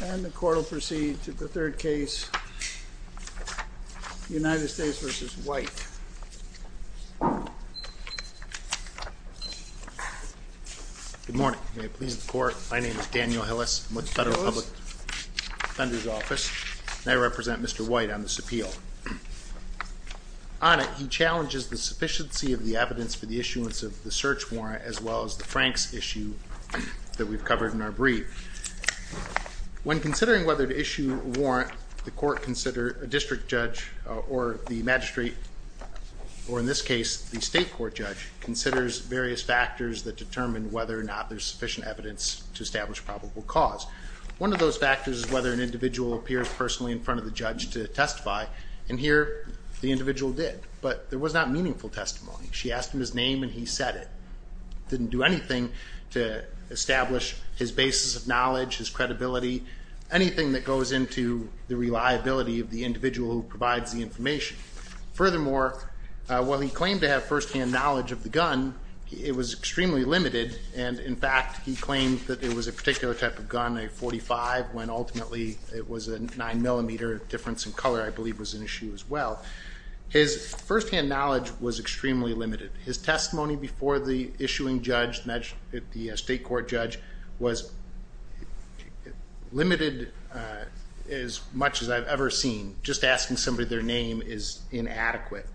And the court will proceed to the third case, United States v. White. Good morning. May it please the court, my name is Daniel Hillis, I'm with the Federal Public Defender's Office, and I represent Mr. White on this appeal. On it, he challenges the sufficiency of the evidence for the issuance of the search warrant as well as the Franks issue that we've covered in our brief. When considering whether to issue a warrant, the court consider a district judge or the magistrate, or in this case, the state court judge, considers various factors that determine whether or not there's sufficient evidence to establish probable cause. One of those factors is whether an individual appears personally in front of the judge to testify, and here, the individual did. But there was not meaningful testimony. She asked him his name and he said it. Didn't do anything to establish his basis of knowledge, his credibility, anything that goes into the reliability of the individual who provides the information. Furthermore, while he claimed to have firsthand knowledge of the gun, it was extremely limited, and in fact, he claimed that it was a particular type of gun, a .45, when ultimately it was a 9mm of difference in color, I believe was an issue as well. His firsthand knowledge was extremely limited. His testimony before the issuing judge, the state court judge, was limited as much as I've ever seen. Just asking somebody their name is inadequate.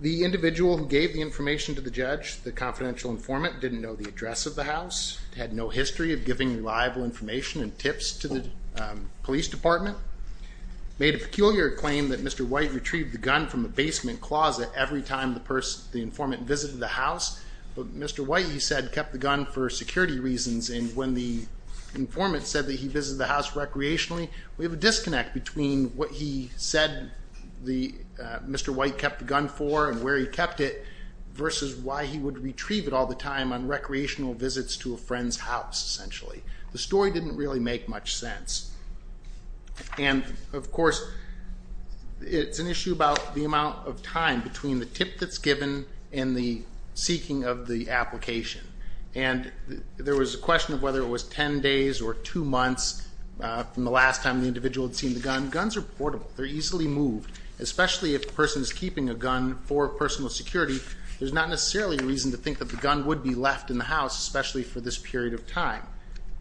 The individual who gave the information to the judge, the confidential informant, didn't know the address of the house, had no history of giving reliable information and tips to the police department, made a peculiar claim that Mr. White retrieved the gun from the basement closet every time the informant visited the house. Mr. White, he said, kept the gun for security reasons, and when the informant said that he visited the house recreationally, we have a disconnect between what he said Mr. White kept the gun for and where he kept it, versus why he would retrieve it all the time on recreational visits to a friend's house, essentially. The story didn't really make much sense. And, of course, it's an issue about the amount of time between the tip that's given and the seeking of the application. And there was a question of whether it was ten days or two months from the last time the individual had seen the gun. Guns are portable. They're easily moved. Especially if the person is keeping a gun for personal security, there's not necessarily a reason to think that the gun would be left in the house, especially for this period of time.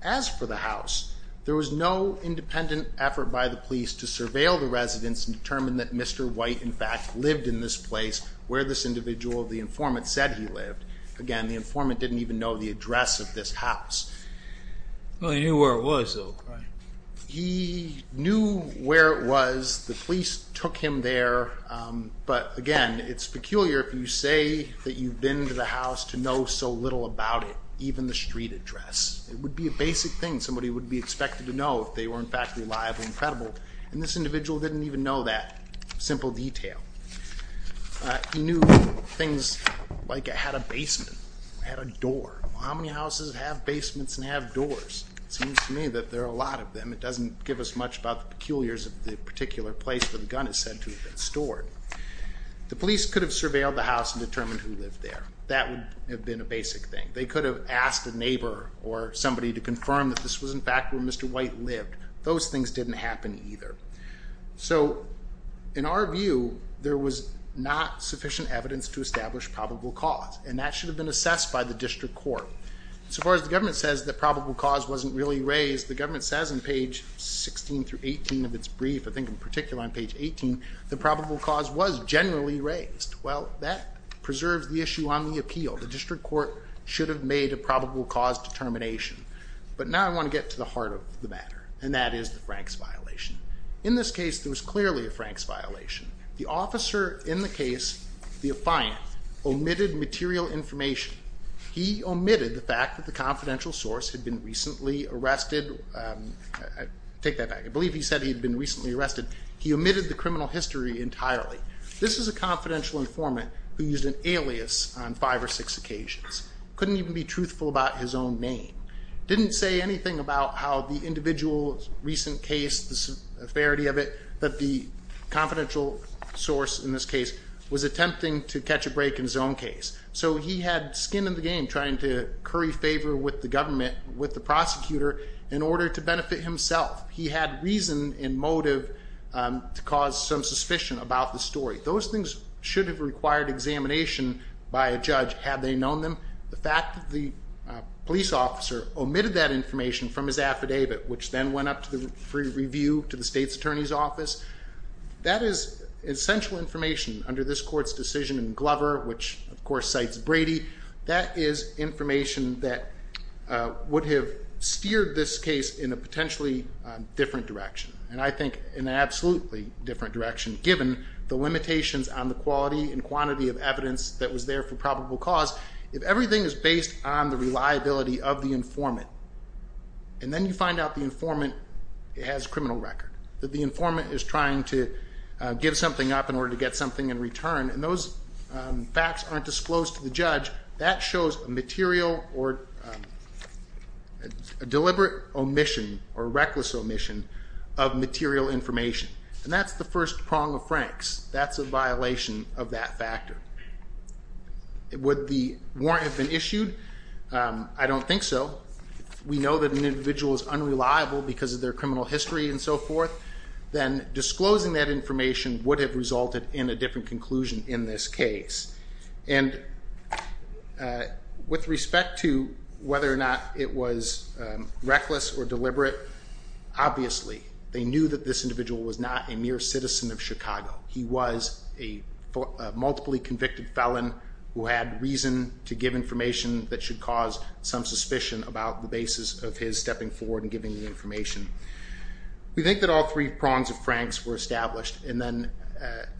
As for the house, there was no independent effort by the police to surveil the residents and determine that Mr. White, in fact, lived in this place where this individual, the informant, said he lived. Again, the informant didn't even know the address of this house. Well, he knew where it was, though. He knew where it was. The police took him there. But, again, it's peculiar if you say that you've been to the house to know so little about it, even the street address. It would be a basic thing. Somebody would be expected to know if they were, in fact, reliable and credible. And this individual didn't even know that. Simple detail. He knew things like it had a basement, it had a door. How many houses have basements and have doors? It seems to me that there are a lot of them. It doesn't give us much about the peculiarities of the particular place where the gun is said to have been stored. The police could have surveilled the house and determined who lived there. That would have been a basic thing. They could have asked a neighbor or somebody to confirm that this was, in fact, where Mr. White lived. Those things didn't happen either. So, in our view, there was not sufficient evidence to establish probable cause. And that should have been assessed by the district court. So far as the government says that probable cause wasn't really raised, the government says on page 16 through 18 of its brief, I think in particular on page 18, that probable cause was generally raised. Well, that preserves the issue on the appeal. The district court should have made a probable cause determination. But now I want to get to the heart of the matter, and that is the Franks violation. In this case, there was clearly a Franks violation. The officer in the case, the affiant, omitted material information. He omitted the fact that the confidential source had been recently arrested. Take that back. I believe he said he had been recently arrested. He omitted the criminal history entirely. This is a confidential informant who used an alias on five or six occasions. Couldn't even be truthful about his own name. Didn't say anything about how the individual's recent case, the severity of it, that the confidential source in this case was attempting to catch a break in his own case. So he had skin in the game trying to curry favor with the government, with the prosecutor, in order to benefit himself. He had reason and motive to cause some suspicion about the story. Those things should have required examination by a judge had they known them. The fact that the police officer omitted that information from his affidavit, which then went up for review to the state's attorney's office, that is essential information under this court's decision in Glover, which, of course, cites Brady. That is information that would have steered this case in a potentially different direction, and I think in an absolutely different direction, given the limitations on the quality and quantity of evidence that was there for probable cause. If everything is based on the reliability of the informant, and then you find out the informant has a criminal record, that the informant is trying to give something up in order to get something in return, and those facts aren't disclosed to the judge, that shows a deliberate omission or reckless omission of material information. And that's the first prong of Frank's. That's a violation of that factor. Would the warrant have been issued? I don't think so. We know that an individual is unreliable because of their criminal history and so forth. Then disclosing that information would have resulted in a different conclusion in this case. And with respect to whether or not it was reckless or deliberate, obviously they knew that this individual was not a mere citizen of Chicago. He was a multiply convicted felon who had reason to give information that should cause some suspicion about the basis of his stepping forward and giving the information. We think that all three prongs of Frank's were established, and then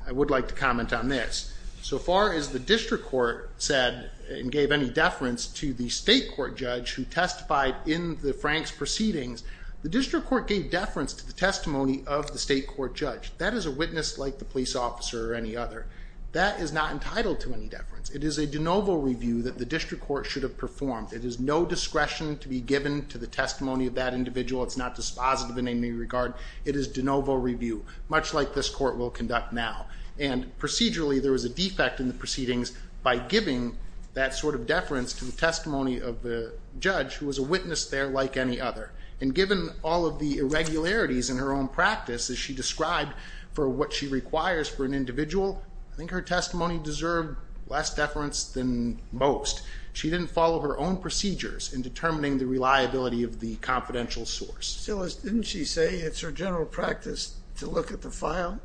I would like to comment on this. So far as the district court said and gave any deference to the state court judge who testified in the Frank's proceedings, the district court gave deference to the testimony of the state court judge. That is a witness like the police officer or any other. That is not entitled to any deference. It is a de novo review that the district court should have performed. It is no discretion to be given to the testimony of that individual. It's not dispositive in any regard. It is de novo review, much like this court will conduct now. And procedurally there was a defect in the proceedings by giving that sort of deference to the testimony of the judge who was a witness there like any other. And given all of the irregularities in her own practice as she described for what she requires for an individual, I think her testimony deserved less deference than most. She didn't follow her own procedures in determining the reliability of the confidential source. Silas, didn't she say it's her general practice to look at the file?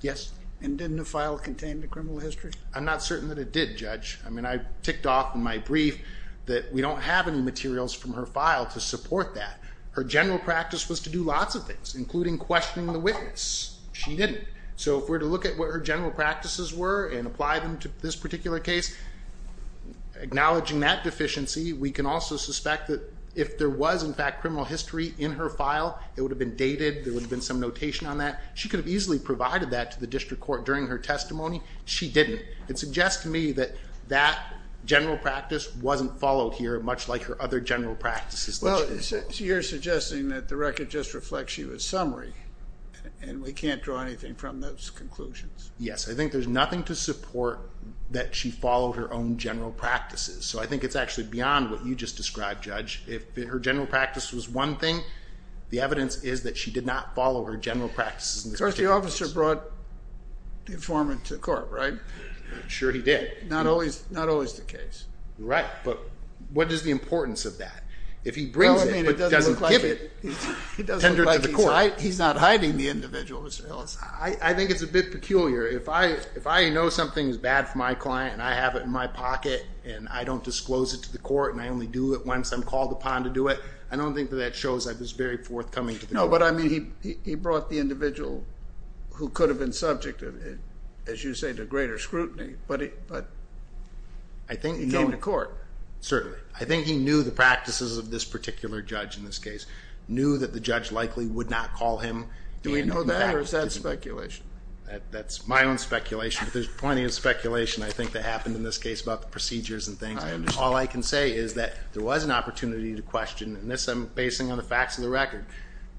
Yes. And didn't the file contain the criminal history? I'm not certain that it did, Judge. I mean, I ticked off in my brief that we don't have any materials from her file to support that. Her general practice was to do lots of things, including questioning the witness. She didn't. So if we're to look at what her general practices were and apply them to this particular case, acknowledging that deficiency, we can also suspect that if there was, in fact, criminal history in her file, it would have been dated, there would have been some notation on that. She could have easily provided that to the district court during her testimony. She didn't. It suggests to me that that general practice wasn't followed here, much like her other general practices. Well, you're suggesting that the record just reflects she was summary, and we can't draw anything from those conclusions. Yes. I think there's nothing to support that she followed her own general practices. So I think it's actually beyond what you just described, Judge. If her general practice was one thing, the evidence is that she did not follow her general practices in this particular case. Of course, the officer brought the informant to court, right? Sure he did. Not always the case. Right. But what is the importance of that? If he brings it but doesn't give it, he's tendered to the court. He's not hiding the individual, Mr. Ellis. I think it's a bit peculiar. If I know something is bad for my client and I have it in my pocket and I don't disclose it to the court and I only do it once I'm called upon to do it, I don't think that that shows I was very forthcoming to the court. No, but, I mean, he brought the individual who could have been subject, as you say, to greater scrutiny, but he came to court. Certainly. I think he knew the practices of this particular judge in this case, knew that the judge likely would not call him. Do we know that or is that speculation? That's my own speculation, but there's plenty of speculation, I think, that happened in this case about the procedures and things. I understand. All I can say is that there was an opportunity to question, and this I'm basing on the facts of the record,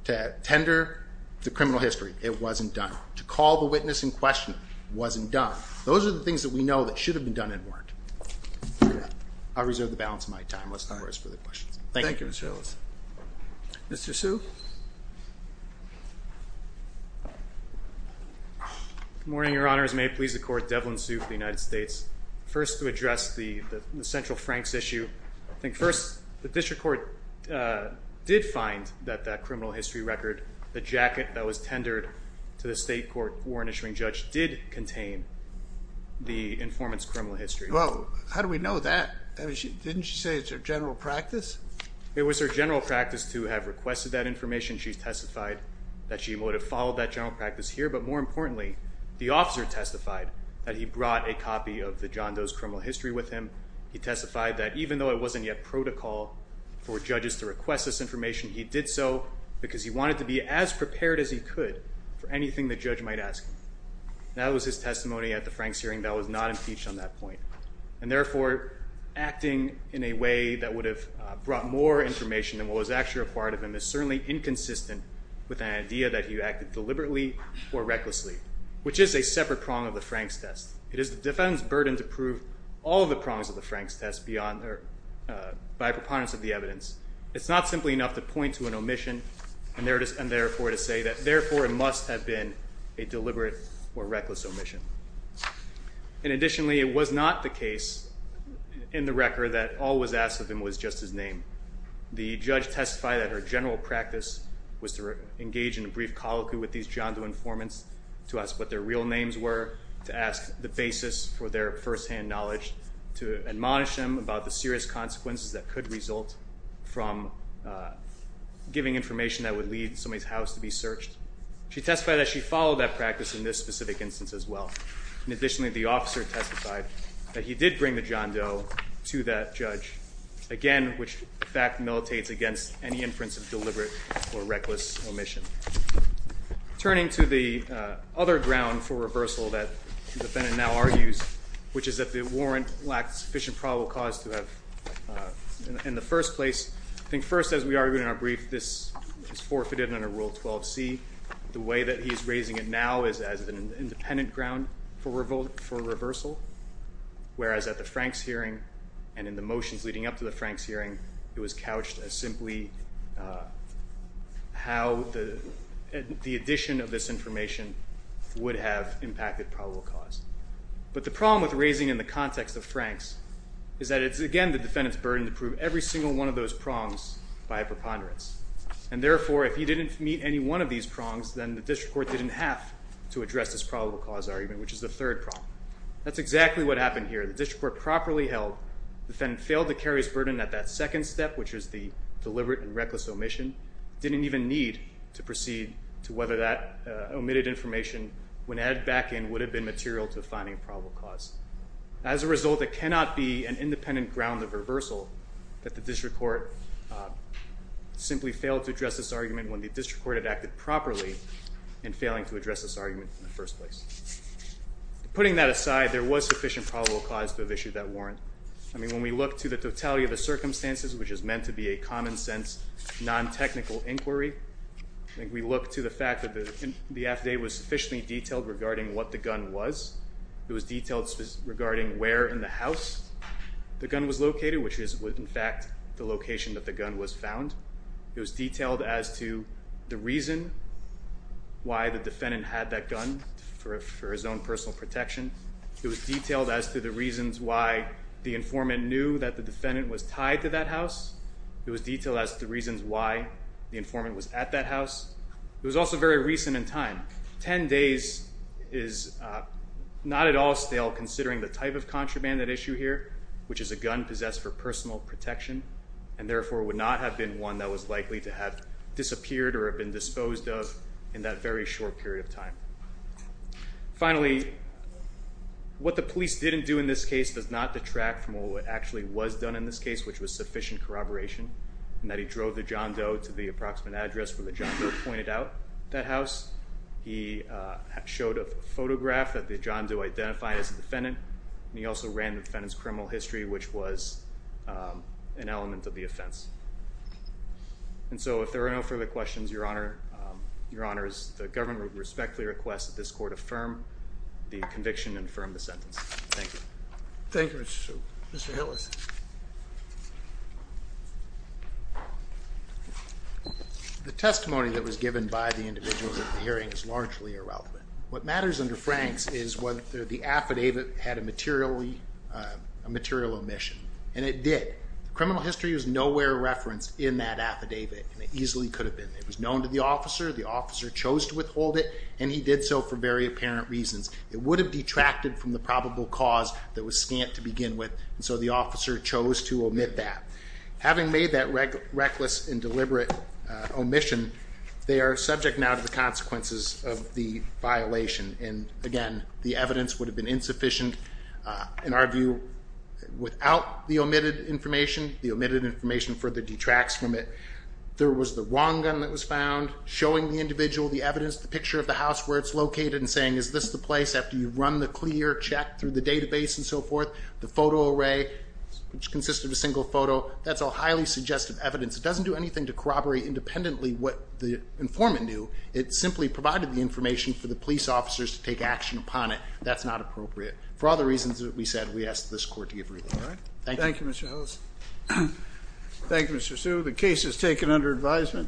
to tender to criminal history. It wasn't done. To call the witness in question wasn't done. Those are the things that we know that should have been done and weren't. I'll reserve the balance of my time. Let's not waste further questions. Thank you. Thank you, Mr. Ellis. Mr. Hsu. Good morning, Your Honors. May it please the Court, Devlin Hsu for the United States. First, to address the Central Franks issue, I think first, the district court did find that that criminal history record, the jacket that was tendered to the state court warrant issuing judge, did contain the informant's criminal history. Well, how do we know that? Didn't she say it's her general practice? It was her general practice to have requested that information. She testified that she would have followed that general practice here, but more importantly, the officer testified that he brought a copy of the John Doe's criminal history with him. He testified that even though it wasn't yet protocol for judges to request this information, he did so because he wanted to be as prepared as he could for anything the judge might ask. That was his testimony at the Franks hearing. That was not impeached on that point. And therefore, acting in a way that would have brought more information than what was actually required of him is certainly inconsistent with an idea that he acted deliberately or recklessly, which is a separate prong of the Franks test. It is the defendant's burden to prove all of the prongs of the Franks test by preponderance of the evidence. It's not simply enough to point to an omission and therefore to say that therefore it must have been a deliberate or reckless omission. And additionally, it was not the case in the record that all was asked of him was just his name. The judge testified that her general practice was to engage in a brief colloquy with these John Doe informants, to ask what their real names were, to ask the basis for their firsthand knowledge, to admonish them about the serious consequences that could result from giving information that would lead somebody's house to be searched. She testified that she followed that practice in this specific instance as well. And additionally, the officer testified that he did bring the John Doe to that judge, again, which in fact militates against any inference of deliberate or reckless omission. Turning to the other ground for reversal that the defendant now argues, which is that the warrant lacked sufficient probable cause to have in the first place. I think first, as we argued in our brief, this is forfeited under Rule 12C. The way that he is raising it now is as an independent ground for reversal, whereas at the Franks hearing and in the motions leading up to the Franks hearing, it was couched as simply how the addition of this information would have impacted probable cause. again, the defendant's burden to prove every single one of those prongs by preponderance. And therefore, if he didn't meet any one of these prongs, then the district court didn't have to address this probable cause argument, which is the third prong. That's exactly what happened here. The district court properly held the defendant failed to carry his burden at that second step, which is the deliberate and reckless omission, didn't even need to proceed to whether that omitted information when added back in would have been material to finding probable cause. As a result, it cannot be an independent ground of reversal that the district court simply failed to address this argument when the district court had acted properly in failing to address this argument in the first place. Putting that aside, there was sufficient probable cause to have issued that warrant. I mean, when we look to the totality of the circumstances, which is meant to be a common sense, non-technical inquiry, I think we look to the fact that the affidavit was sufficiently detailed regarding what the gun was. It was detailed regarding where in the house the gun was located, which is in fact the location that the gun was found. It was detailed as to the reason why the defendant had that gun for his own personal protection. It was detailed as to the reasons why the informant knew that the defendant was tied to that house. It was detailed as to the reasons why the informant was at that house. It was also very recent in time. 10 days is not at all stale considering the type of contraband that issue here, which is a gun possessed for personal protection and therefore would not have been one that was likely to have disappeared or have been disposed of in that very short period of time. Finally, what the police didn't do in this case does not detract from what actually was done in this case, which was sufficient corroboration and that he drove the John Doe to the crime scene. He showed a photograph that the John Doe identified as the defendant. He also ran the defendant's criminal history, which was an element of the offense. And so if there are no further questions, Your Honor, the government respectfully requests that this court affirm the conviction and affirm the sentence. Thank you. Thank you, Mr. Shoup. Mr. Hillis. The testimony that was given by the individual at the hearing is largely irrelevant. What matters under Frank's is whether the affidavit had a material omission. And it did. Criminal history is nowhere referenced in that affidavit. And it easily could have been. It was known to the officer. The officer chose to withhold it. And he did so for very apparent reasons. It would have detracted from the probable cause that was scant to begin with. And so the officer, the officer chose to omit that. Having made that reckless and deliberate omission, they are subject now to the consequences of the violation. And again, the evidence would have been insufficient in our view without the omitted information. The omitted information further detracts from it. There was the wrong gun that was found showing the individual, the evidence, the picture of the house where it's located and saying, is this the place after you've run the clear check through the database and so forth, the photo array, which consisted of a single photo. That's all highly suggestive evidence. It doesn't do anything to corroborate independently what the informant knew. It simply provided the information for the police officers to take action upon it. That's not appropriate. For all the reasons that we said, we asked this court to give relief. Thank you, Mr. Ellis. Thank you, Mr. Sue.